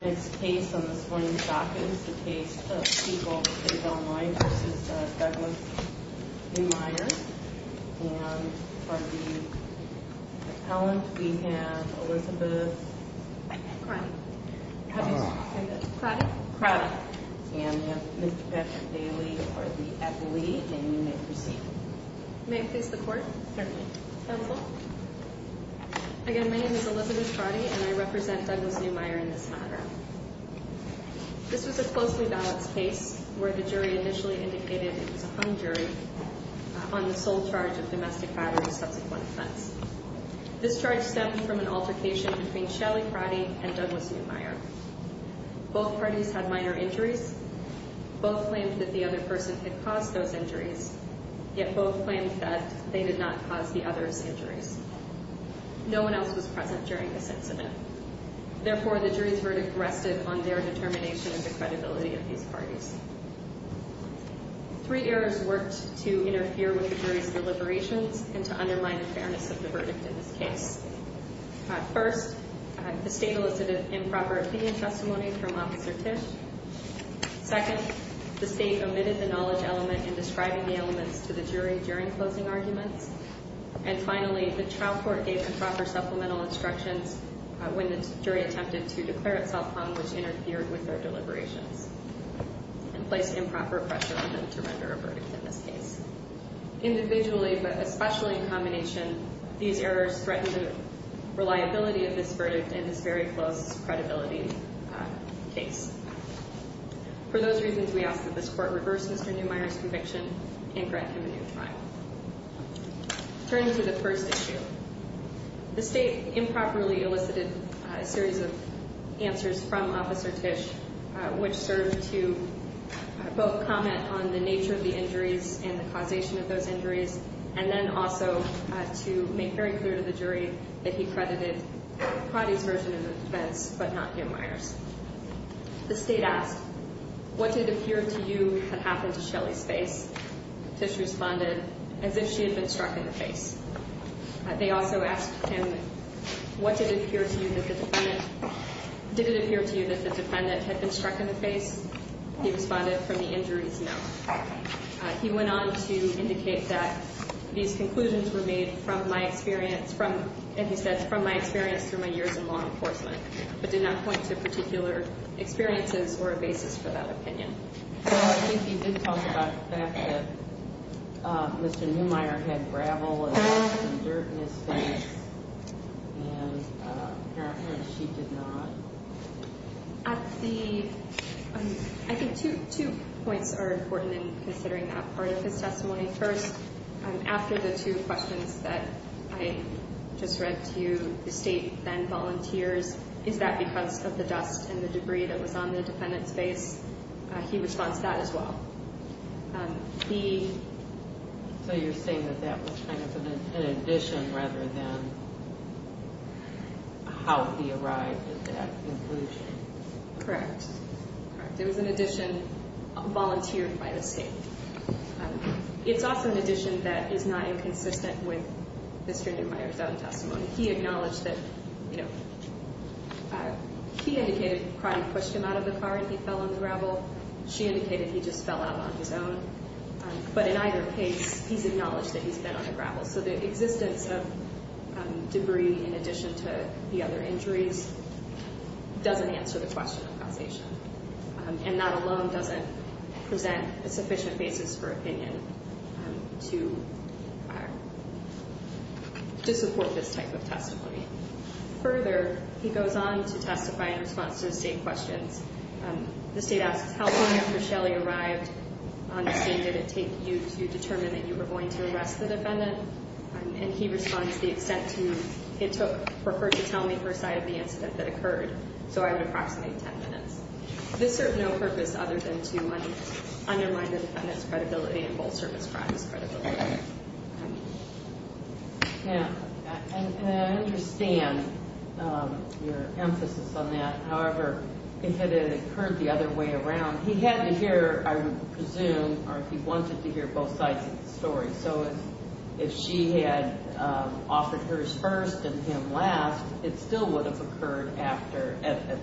The next case on this morning's docket is the case of Siegel v. Del Moine v. Douglas Neumeyer and for the appellant we have Elizabeth Crotty and we have Mr. Patrick Bailey at the lead and you may proceed. May I please the court? Certainly. Again, my name is Elizabeth Crotty and I represent Douglas Neumeyer in this matter. This was a closely balanced case where the jury initially indicated it was a hung jury on the sole charge of domestic violence and subsequent offense. This charge stemmed from an altercation between Shelley Crotty and Douglas Neumeyer. Both parties had minor injuries. Both claimed that the other person had caused those injuries, yet both claimed that they did not cause the other's injuries. No one else was present during this incident. Therefore, the jury's verdict rested on their determination and the credibility of these parties. Three errors worked to interfere with the jury's deliberations and to undermine the fairness of the verdict in this case. First, the state elicited improper opinion testimony from Officer Tisch. Second, the state omitted the knowledge element in describing the elements to the jury during closing arguments. And finally, the trial court gave improper supplemental instructions when the jury attempted to declare itself hung, which interfered with their deliberations. And placed improper pressure on them to render a verdict in this case. Individually, but especially in combination, these errors threatened the reliability of this verdict in this very close credibility case. For those reasons, we ask that this court reverse Mr. Neumeyer's conviction and grant him a new trial. Turning to the first issue, the state improperly elicited a series of answers from Officer Tisch, which served to both comment on the nature of the injuries and the causation of those injuries, and then also to make very clear to the jury that he credited Pratty's version of the defense, but not Neumeyer's. The state asked, what did appear to you had happened to Shelly's face? Tisch responded, as if she had been struck in the face. They also asked him, did it appear to you that the defendant had been struck in the face? He responded, from the injuries, no. He went on to indicate that these conclusions were made from my experience, and he said, from my experience through my years in law enforcement, but did not point to particular experiences or a basis for that opinion. Well, I think you did talk about the fact that Mr. Neumeyer had gravel and some dirt in his face, and apparently she did not. At the – I think two points are important in considering that part of his testimony. First, after the two questions that I just read to you, the state then volunteers, is that because of the dust and the debris that was on the defendant's face? He responds, that as well. The – So you're saying that that was kind of an addition rather than how he arrived at that conclusion. Correct. Correct. It was an addition volunteered by the state. It's also an addition that is not inconsistent with Mr. Neumeyer's own testimony. He acknowledged that – you know, he indicated that probably pushed him out of the car and he fell on the gravel. She indicated he just fell out on his own. But in either case, he's acknowledged that he's been on the gravel. So the existence of debris in addition to the other injuries doesn't answer the question of causation. And that alone doesn't present a sufficient basis for opinion to support this type of testimony. Further, he goes on to testify in response to the state questions. The state asks, how long after Shelly arrived on the scene did it take you to determine that you were going to arrest the defendant? And he responds, the extent to which it took for her to tell me her side of the incident that occurred. So I would approximate 10 minutes. This served no purpose other than to undermine the defendant's credibility and both servants' friends' credibility. Yeah. And I understand your emphasis on that. However, if it had occurred the other way around, he had to hear, I would presume, or he wanted to hear both sides of the story. So if she had offered hers first and him last, it still would have occurred after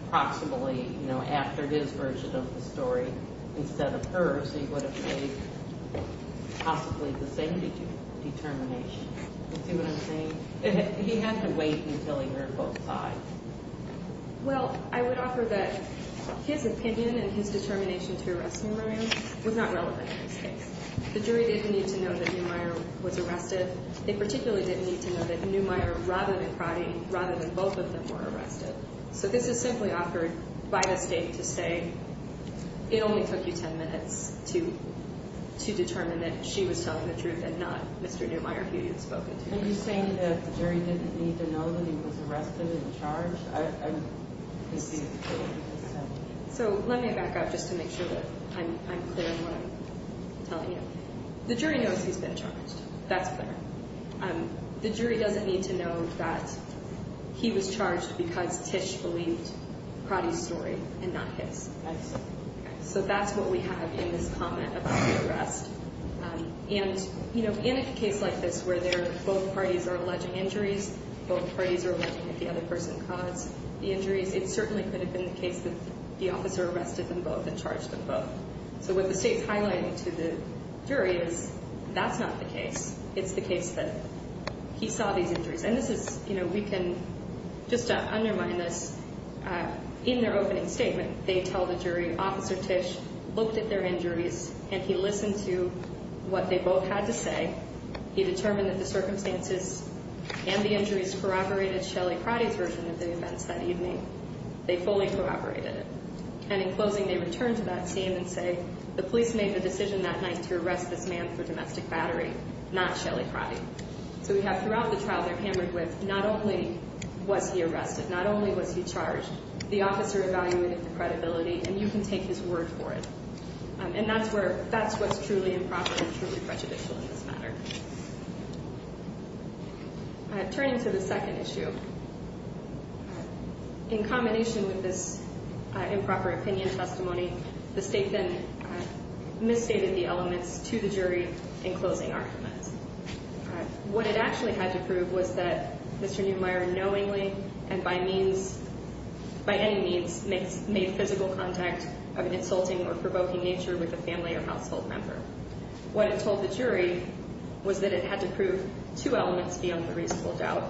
approximately, you know, after his version of the story instead of hers. He would have made possibly the same determination. Do you see what I'm saying? He had to wait until he heard both sides. Well, I would offer that his opinion and his determination to arrest me, Mariam, was not relevant in this case. The jury didn't need to know that Neumeier was arrested. They particularly didn't need to know that Neumeier, rather than Crotty, rather than both of them, were arrested. So this is simply offered by the state to say it only took you 10 minutes to determine that she was telling the truth and not Mr. Neumeier, who you had spoken to. Are you saying that the jury didn't need to know that he was arrested and charged? So let me back up just to make sure that I'm clear on what I'm telling you. The jury knows he's been charged. That's clear. The jury doesn't need to know that he was charged because Tisch believed Crotty's story and not his. So that's what we have in this comment about the arrest. And, you know, in a case like this where both parties are alleging injuries, both parties are alleging that the other person caused the injuries, it certainly could have been the case that the officer arrested them both and charged them both. So what the state's highlighting to the jury is that's not the case. It's the case that he saw these injuries. And this is, you know, we can just undermine this. In their opening statement, they tell the jury Officer Tisch looked at their injuries and he listened to what they both had to say. He determined that the circumstances and the injuries corroborated Shelley Crotty's version of the events that evening. They fully corroborated it. And in closing, they return to that scene and say the police made the decision that night to arrest this man for domestic battery, not Shelley Crotty. So we have throughout the trial they're hammered with not only was he arrested, not only was he charged, the officer evaluated the credibility and you can take his word for it. And that's where that's what's truly improper and truly prejudicial in this matter. Turning to the second issue, in combination with this improper opinion testimony, the state then misstated the elements to the jury in closing arguments. What it actually had to prove was that Mr. Neumeier knowingly and by means, by any means, made physical contact of an insulting or provoking nature with a family or household member. What it told the jury was that it had to prove two elements beyond the reasonable doubt,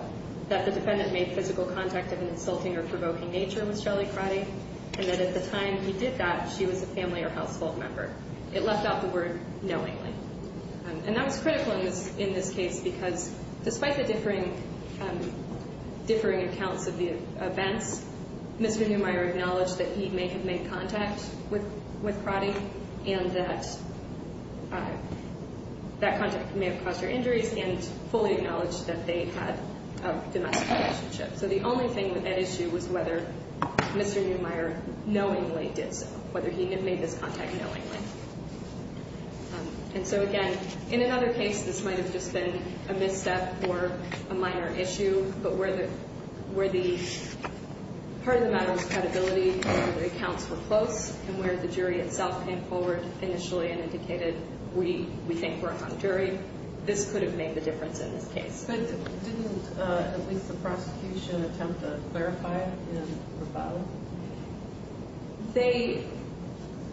that the defendant made physical contact of an insulting or provoking nature with Shelley Crotty, and that at the time he did that, she was a family or household member. It left out the word knowingly. And that was critical in this case because despite the differing accounts of the events, Mr. Neumeier acknowledged that he may have made contact with Crotty and that that contact may have caused her injuries and fully acknowledged that they had a domestic relationship. So the only thing with that issue was whether Mr. Neumeier knowingly did so, whether he made this contact knowingly. And so, again, in another case, this might have just been a misstep or a minor issue, but where the part of the matter was credibility and the accounts were close and where the jury itself came forward initially and indicated we think we're a hung jury, this could have made the difference in this case. But didn't at least the prosecution attempt to clarify and rebuttal?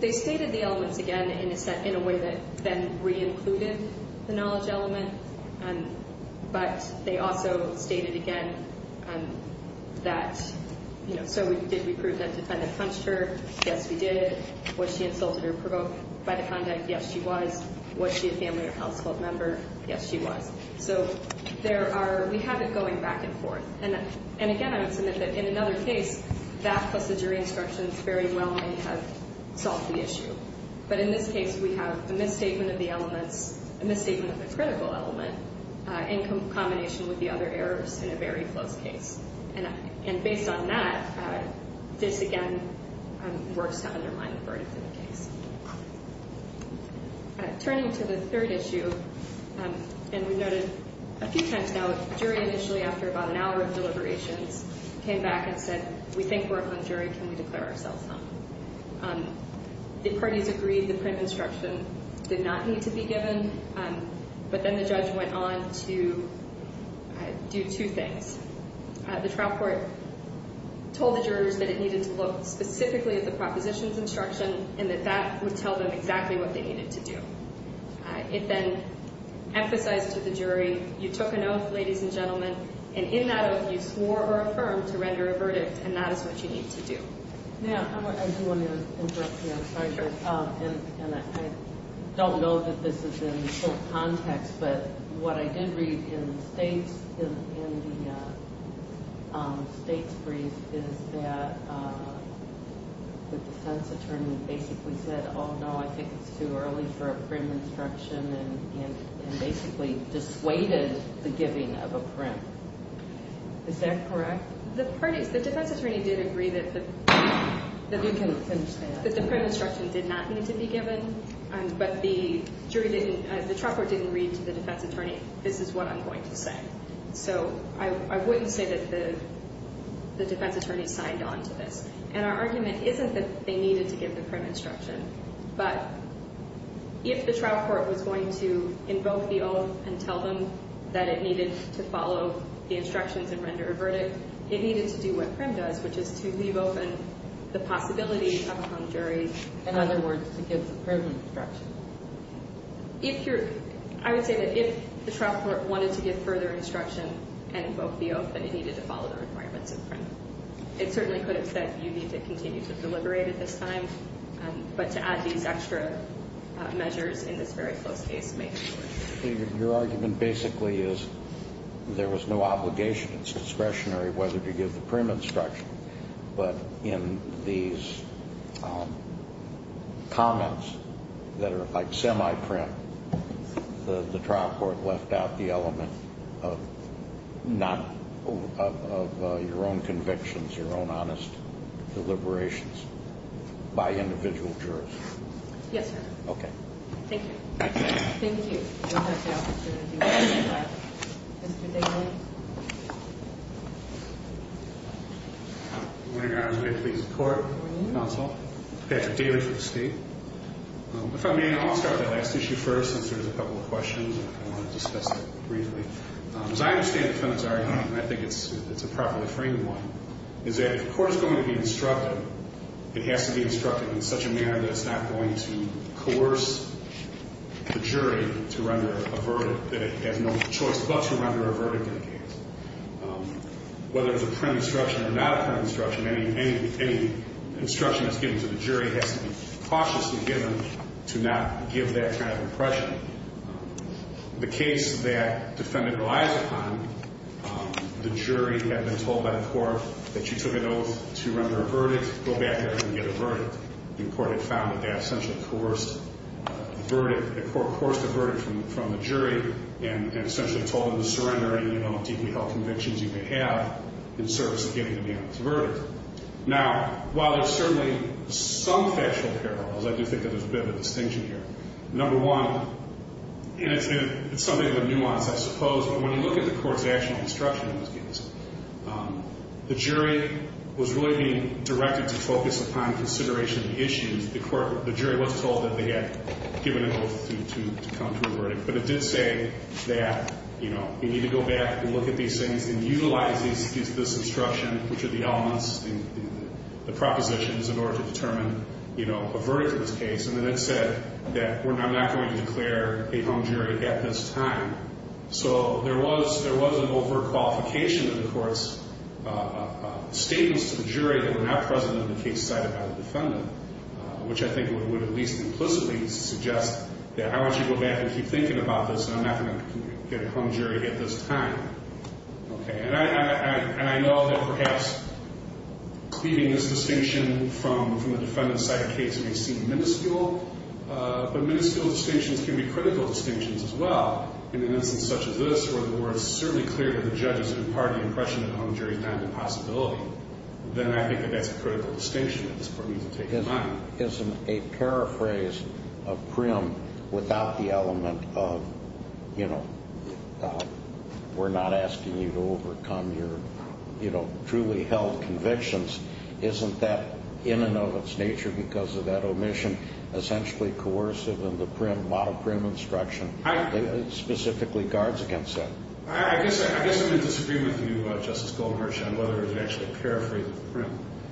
They stated the elements again in a way that then re-included the knowledge element, but they also stated again that, you know, so did we prove that the defendant punched her? Yes, we did. Was she insulted or provoked by the contact? Yes, she was. Was she a family or household member? Yes, she was. So we have it going back and forth. And, again, I would submit that in another case, that plus the jury instructions very well may have solved the issue. But in this case, we have a misstatement of the elements, a misstatement of the critical element, in combination with the other errors in a very close case. And based on that, this, again, works to undermine the verdict in the case. Turning to the third issue, and we've noted a few times now, the jury initially, after about an hour of deliberations, came back and said, we think we're a hung jury. Can we declare ourselves hung? The parties agreed the print instruction did not need to be given, but then the judge went on to do two things. The trial court told the jurors that it needed to look specifically at the propositions instruction and that that would tell them exactly what they needed to do. It then emphasized to the jury, you took an oath, ladies and gentlemen, and in that oath you swore or affirmed to render a verdict, and that is what you need to do. Yeah, I do want to interrupt you. I'm sorry. And I don't know that this is in full context, but what I did read in the state's brief is that the defense attorney basically said, oh, no, I think it's too early for a print instruction and basically dissuaded the giving of a print. Is that correct? The defense attorney did agree that the print instruction did not need to be given, but the trial court didn't read to the defense attorney, this is what I'm going to say. So I wouldn't say that the defense attorney signed on to this. And our argument isn't that they needed to give the print instruction, but if the trial court was going to invoke the oath and tell them that it needed to follow the instructions and render a verdict, it needed to do what print does, which is to leave open the possibility of a hung jury. In other words, to give the print instruction. I would say that if the trial court wanted to give further instruction and invoke the oath, then it needed to follow the requirements of print. It certainly could have said you need to continue to deliberate at this time, but to add these extra measures in this very close case may be worse. Your argument basically is there was no obligation. It's discretionary whether to give the print instruction. But in these comments that are like semi-print, the trial court left out the element of your own convictions, your own honest deliberations by individual jurors. Yes, sir. Okay. Thank you. Thank you. Thank you for the opportunity. Mr. Daly. Good morning, Your Honor. I'm here to plead the court, counsel. Patrick Daly for the state. If I may, I'll start with that last issue first since there's a couple of questions. I want to discuss it briefly. As I understand it, Your Honor, and I think it's a properly framed one, is that if a court is going to be instructive, it has to be instructive in such a manner that it's not going to coerce the jury to render a verdict that it has no choice but to render a verdict in the case. Whether it's a print instruction or not a print instruction, any instruction that's given to the jury has to be cautiously given to not give that kind of impression. The case that the defendant relies upon, the jury had been told by the court that you took an oath to render a verdict, go back there and get a verdict. The court had found that that essentially coerced a verdict from the jury and essentially told them to surrender and, you know, deeply held convictions you may have in service of giving them the honest verdict. Now, while there's certainly some factual parallels, I do think that there's a bit of a distinction here. Number one, and it's something of a nuance, I suppose, but when you look at the court's actual instruction in this case, the jury was really being directed to focus upon consideration of the issues. The jury was told that they had given an oath to come to a verdict, but it did say that, you know, you need to go back and look at these things and utilize this instruction, which are the elements, the propositions in order to determine, you know, a verdict in this case. And then it said that I'm not going to declare a hung jury at this time. So there was an overt qualification in the court's statements to the jury that were not present in the case cited by the defendant, which I think would at least implicitly suggest that I want you to go back and keep thinking about this and I'm not going to get a hung jury at this time. And I know that perhaps leaving this distinction from the defendant's side of the case may seem minuscule, but minuscule distinctions can be critical distinctions as well. In an instance such as this where it's certainly clear that the judge has imparted the impression that a hung jury is not a possibility, then I think that that's a critical distinction that this court needs to take in mind. Isn't a paraphrase of prim without the element of, you know, we're not asking you to overcome your, you know, truly held convictions, isn't that in and of its nature because of that omission essentially coercive in the prim, model prim instruction, specifically guards against that? I guess I'm going to disagree with you, Justice Goldenberg,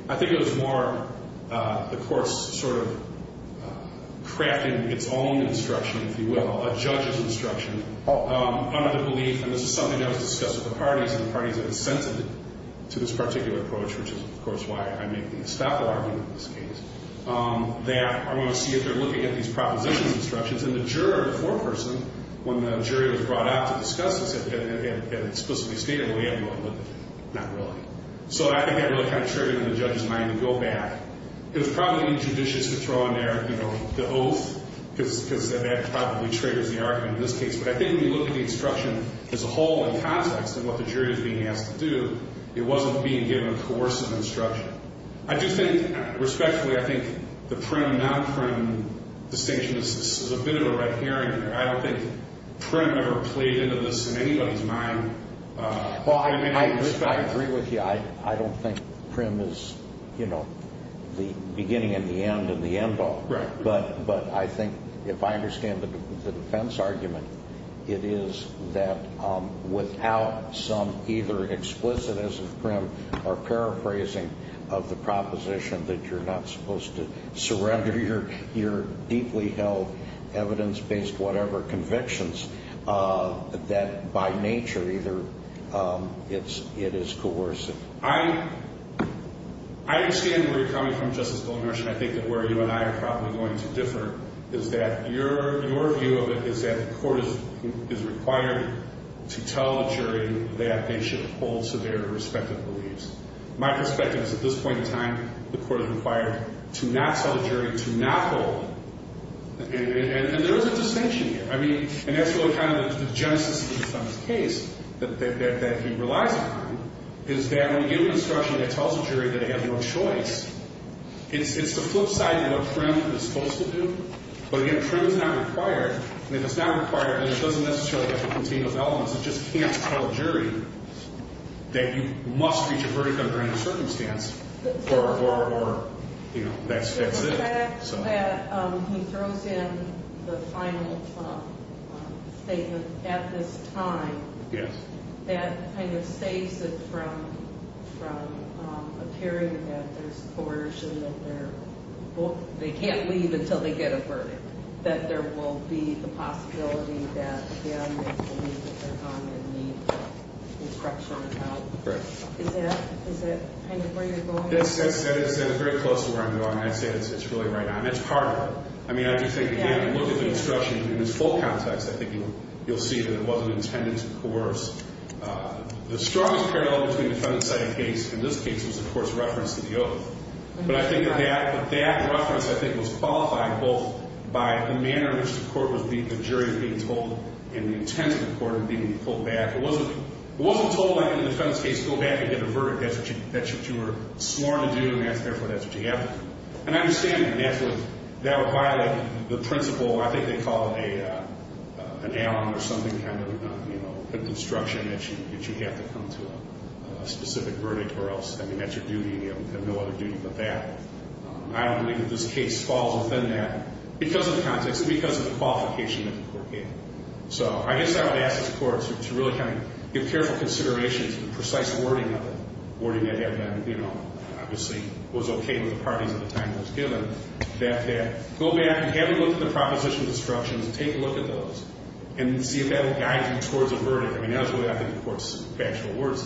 I think it was more the court's sort of crafting its own instruction, if you will, a judge's instruction under the belief, and this is something that was discussed with the parties and the parties have assented to this particular approach, which is, of course, why I make the estoppel argument in this case, that I want to see if they're looking at these propositions instructions and the juror, the foreperson, when the jury was brought out to discuss this, had explicitly stated, well, yeah, but not really. So I think that really kind of triggered in the judge's mind to go back. It was probably judicious to throw in there, you know, the oath, because that probably triggers the argument in this case, but I think when you look at the instruction as a whole in context and what the jury is being asked to do, it wasn't being given a coercive instruction. I do think, respectfully, I think the prim, non-prim distinction, this is a bit of a red herring here, I don't think prim ever played into this in anybody's mind. I agree with you. I don't think prim is, you know, the beginning and the end of the end all. But I think if I understand the defense argument, it is that without some either explicitism of prim or paraphrasing of the proposition that you're not supposed to surrender your deeply held evidence-based whatever convictions that by nature either it is coercive. I understand where you're coming from, Justice Goldmarsh, and I think that where you and I are probably going to differ is that your view of it is that the court is required to tell the jury that they should hold to their respective beliefs. My perspective is at this point in time, the court is required to not tell the jury to not hold. And there is a distinction here. I mean, and that's really kind of the genesis of this case that he relies upon is that when you give an instruction that tells a jury that they have no choice, it's the flip side of what prim is supposed to do. But again, prim is not required, and if it's not required, then it doesn't necessarily have to contain those elements. It just can't tell a jury that you must reach a verdict under any circumstance or, you know, that's it. The fact that he throws in the final statement at this time, that kind of saves it from appearing that there's coercion, that they can't leave until they get a verdict, that there will be the possibility that, again, they believe that they're gone and need instruction about. Correct. Is that kind of where you're going? That is very close to where I'm going. I'd say it's really right on. It's part of it. I mean, I just think, again, if you look at the instruction in its full context, I think you'll see that it wasn't intended to coerce. The strongest parallel between the defendant's side of the case and this case was, of course, reference to the oath. But I think that that reference, I think, was qualified both by the manner in which the jury was being told and the intent of the court of being pulled back. It wasn't told that, in the defendant's case, go back and get a verdict. That's what you were sworn to do, and therefore, that's what you have to do. And I understand that that would violate the principle. I think they call it an alum or something kind of, you know, a construction that you have to come to a specific verdict or else, I mean, that's your duty. You have no other duty but that. I don't believe that this case falls within that because of the context, because of the qualification that the court gave. So I guess I would ask this court to really kind of give careful consideration to the precise wording of it, wording that had been, you know, obviously was okay with the parties at the time it was given, that they go back and have a look at the proposition of destruction and take a look at those and see if that will guide you towards a verdict. I mean, that's what I think the court's factual words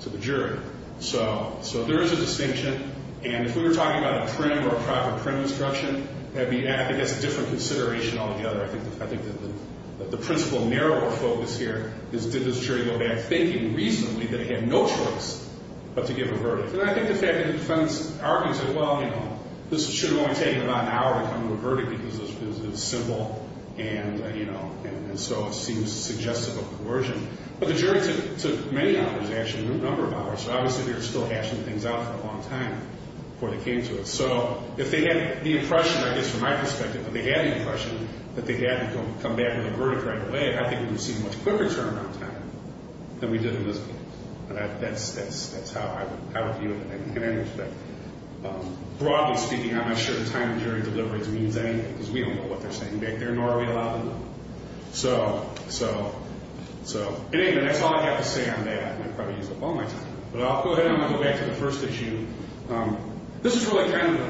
to the jury. So there is a distinction. And if we were talking about a prim or a proper prim destruction, I think that's a different consideration altogether. I think that the principle narrower focus here is did this jury go back thinking recently that it had no choice but to give a verdict. And I think the fact that the defense argued said, well, you know, this should have only taken about an hour to come to a verdict because it was simple and, you know, and so it seems suggestive of coercion. But the jury took many hours, actually, a number of hours. So obviously they were still hashing things out for a long time before they came to it. So if they had the impression, I guess from my perspective, if they had the impression that they had to come back with a verdict right away, I think we would have seen a much quicker turnaround time than we did in this case. And that's how I would view it in any respect. Broadly speaking, I'm not sure the time of jury delivery means anything because we don't know what they're saying back there, nor are we allowed to know. So, in any event, that's all I have to say on that. And I probably used up all my time. But I'll go ahead and I'm going to go back to the first issue. This is really kind of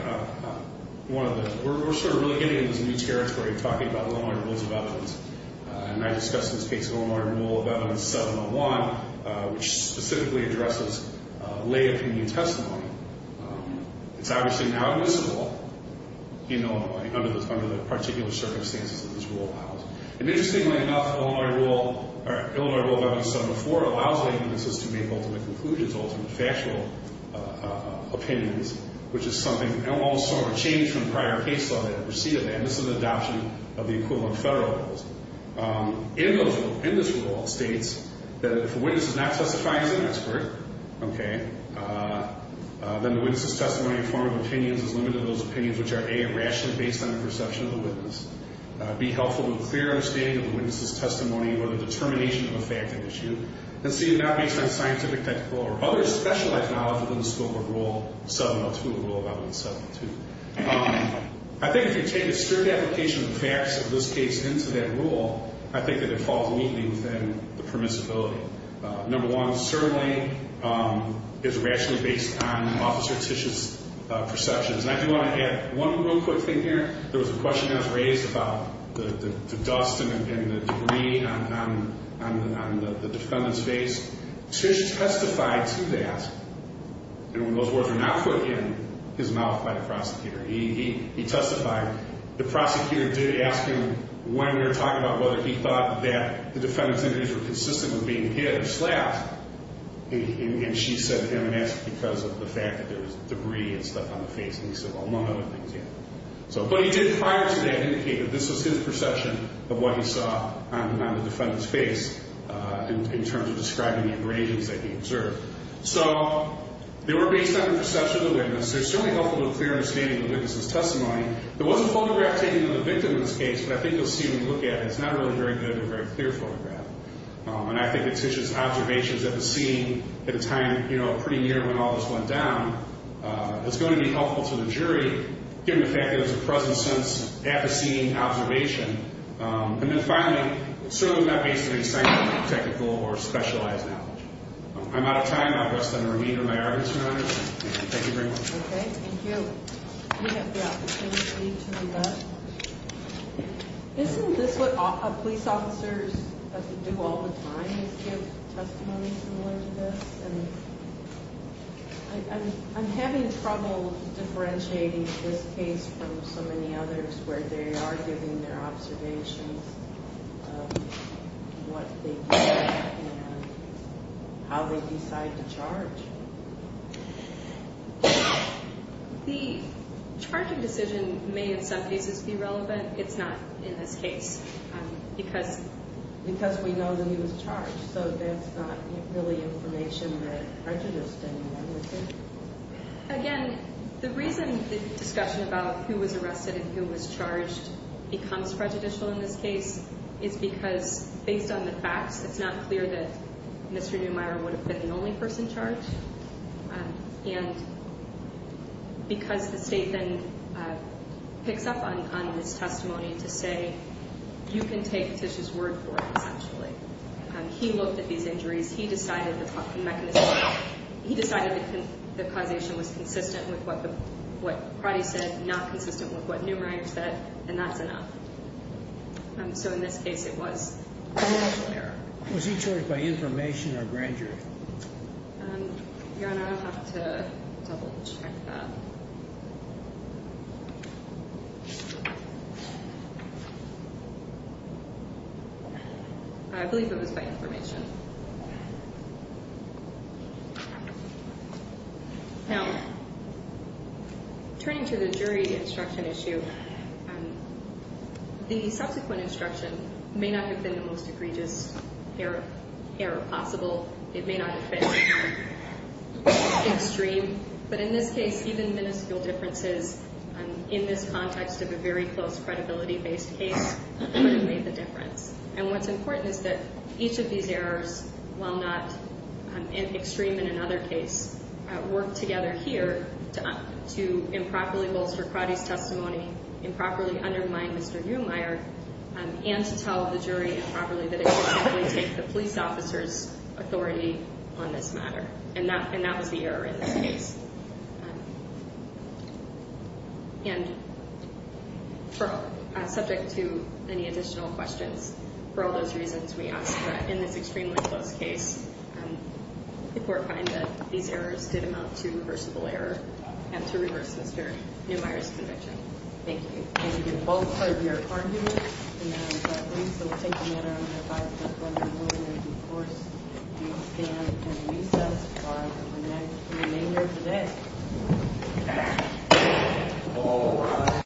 one of the – we're sort of really getting into this new territory of talking about Illinois Rules of Evidence. And I discussed this case of Illinois Rule of Evidence 701, which specifically addresses lay opinion testimony. It's obviously now admissible, you know, under the particular circumstances that this rule allows. And interestingly enough, Illinois Rule of Evidence 704 allows lay witnesses to make ultimate conclusions, ultimate factual opinions, which is something – and also a change from the prior case law that preceded that. This is an adoption of the equivalent federal rules. In this rule, it states that if a witness is not testifying as an expert, okay, then the witness's testimony in the form of opinions is limited to those opinions which are, A, rationally based on the perception of the witness, B, helpful to a clear understanding of the witness's testimony or the determination of a fact of issue, and C, not based on scientific, technical, or other specialized knowledge within the scope of Rule 702, the Rule of Evidence 702. I think if you take a strict application of the facts of this case into that rule, I think that it falls neatly within the permissibility. Number one, certainly it's rationally based on Officer Tisch's perceptions. And I do want to add one real quick thing here. There was a question that was raised about the dust and the debris on the defendant's face. Tisch testified to that. And when those words were not put in his mouth by the prosecutor, he testified. The prosecutor did ask him when we were talking about whether he thought that the defendant's injuries were consistent with being hit or slapped. And she said it was because of the fact that there was debris and stuff on the face. And he said, well, among other things, yeah. So what he did prior to that indicated this was his perception of what he saw on the defendant's face in terms of describing the abrasions that he observed. So they were based on the perception of the witness. They're certainly helpful to a clear understanding of the witness's testimony. There was a photograph taken of the victim in this case, but I think you'll see when you look at it, it's not really a very good or very clear photograph. And I think that Tisch's observations at the scene at a time, you know, pretty near when all this went down, it's going to be helpful to the jury given the fact that there's a presence since at the scene observation. And then finally, certainly not based on any scientific, technical, or specialized knowledge. I'm out of time. I'll rest on the remainder of my arguments, Your Honor. Thank you very much. Okay, thank you. You have the opportunity to leave us. Isn't this what police officers have to do all the time is give testimony similar to this? And I'm having trouble differentiating this case from so many others where they are giving their observations of what they think and how they decide to charge. The charging decision may in some cases be relevant. It's not in this case because we know that he was charged. So that's not really information that prejudiced anyone, is it? Again, the reason the discussion about who was arrested and who was charged becomes prejudicial in this case is because based on the facts, it's not clear that Mr. Neumeier would have been the only person charged. And because the state then picks up on his testimony to say you can take Tisch's word for it, essentially. He looked at these injuries. He decided the causation was consistent with what Pratty said, not consistent with what Neumeier said, and that's enough. So in this case, it was an actual error. Was he charged by information or grandeur? Your Honor, I'll have to double check that. I believe it was by information. Now, turning to the jury instruction issue, the subsequent instruction may not have been the most egregious error possible. It may not have been extreme. But in this case, even minuscule differences in this context of a very close credibility-based case could have made the difference. And what's important is that each of these errors, while not extreme in another case, worked together here to improperly bolster Pratty's testimony, improperly undermine Mr. Neumeier, and to tell the jury improperly that it would simply take the police officer's authority on this matter. And that was the error in this case. And subject to any additional questions, for all those reasons, we ask that in this extremely close case, the court find that these errors did amount to reversible error and to reverse Mr. Neumeier's conviction. Thank you. Thank you both for your arguments. And I believe that we'll take the matter under review. I just wanted to warn you that, of course, the stand and recess are for the remainder of the day.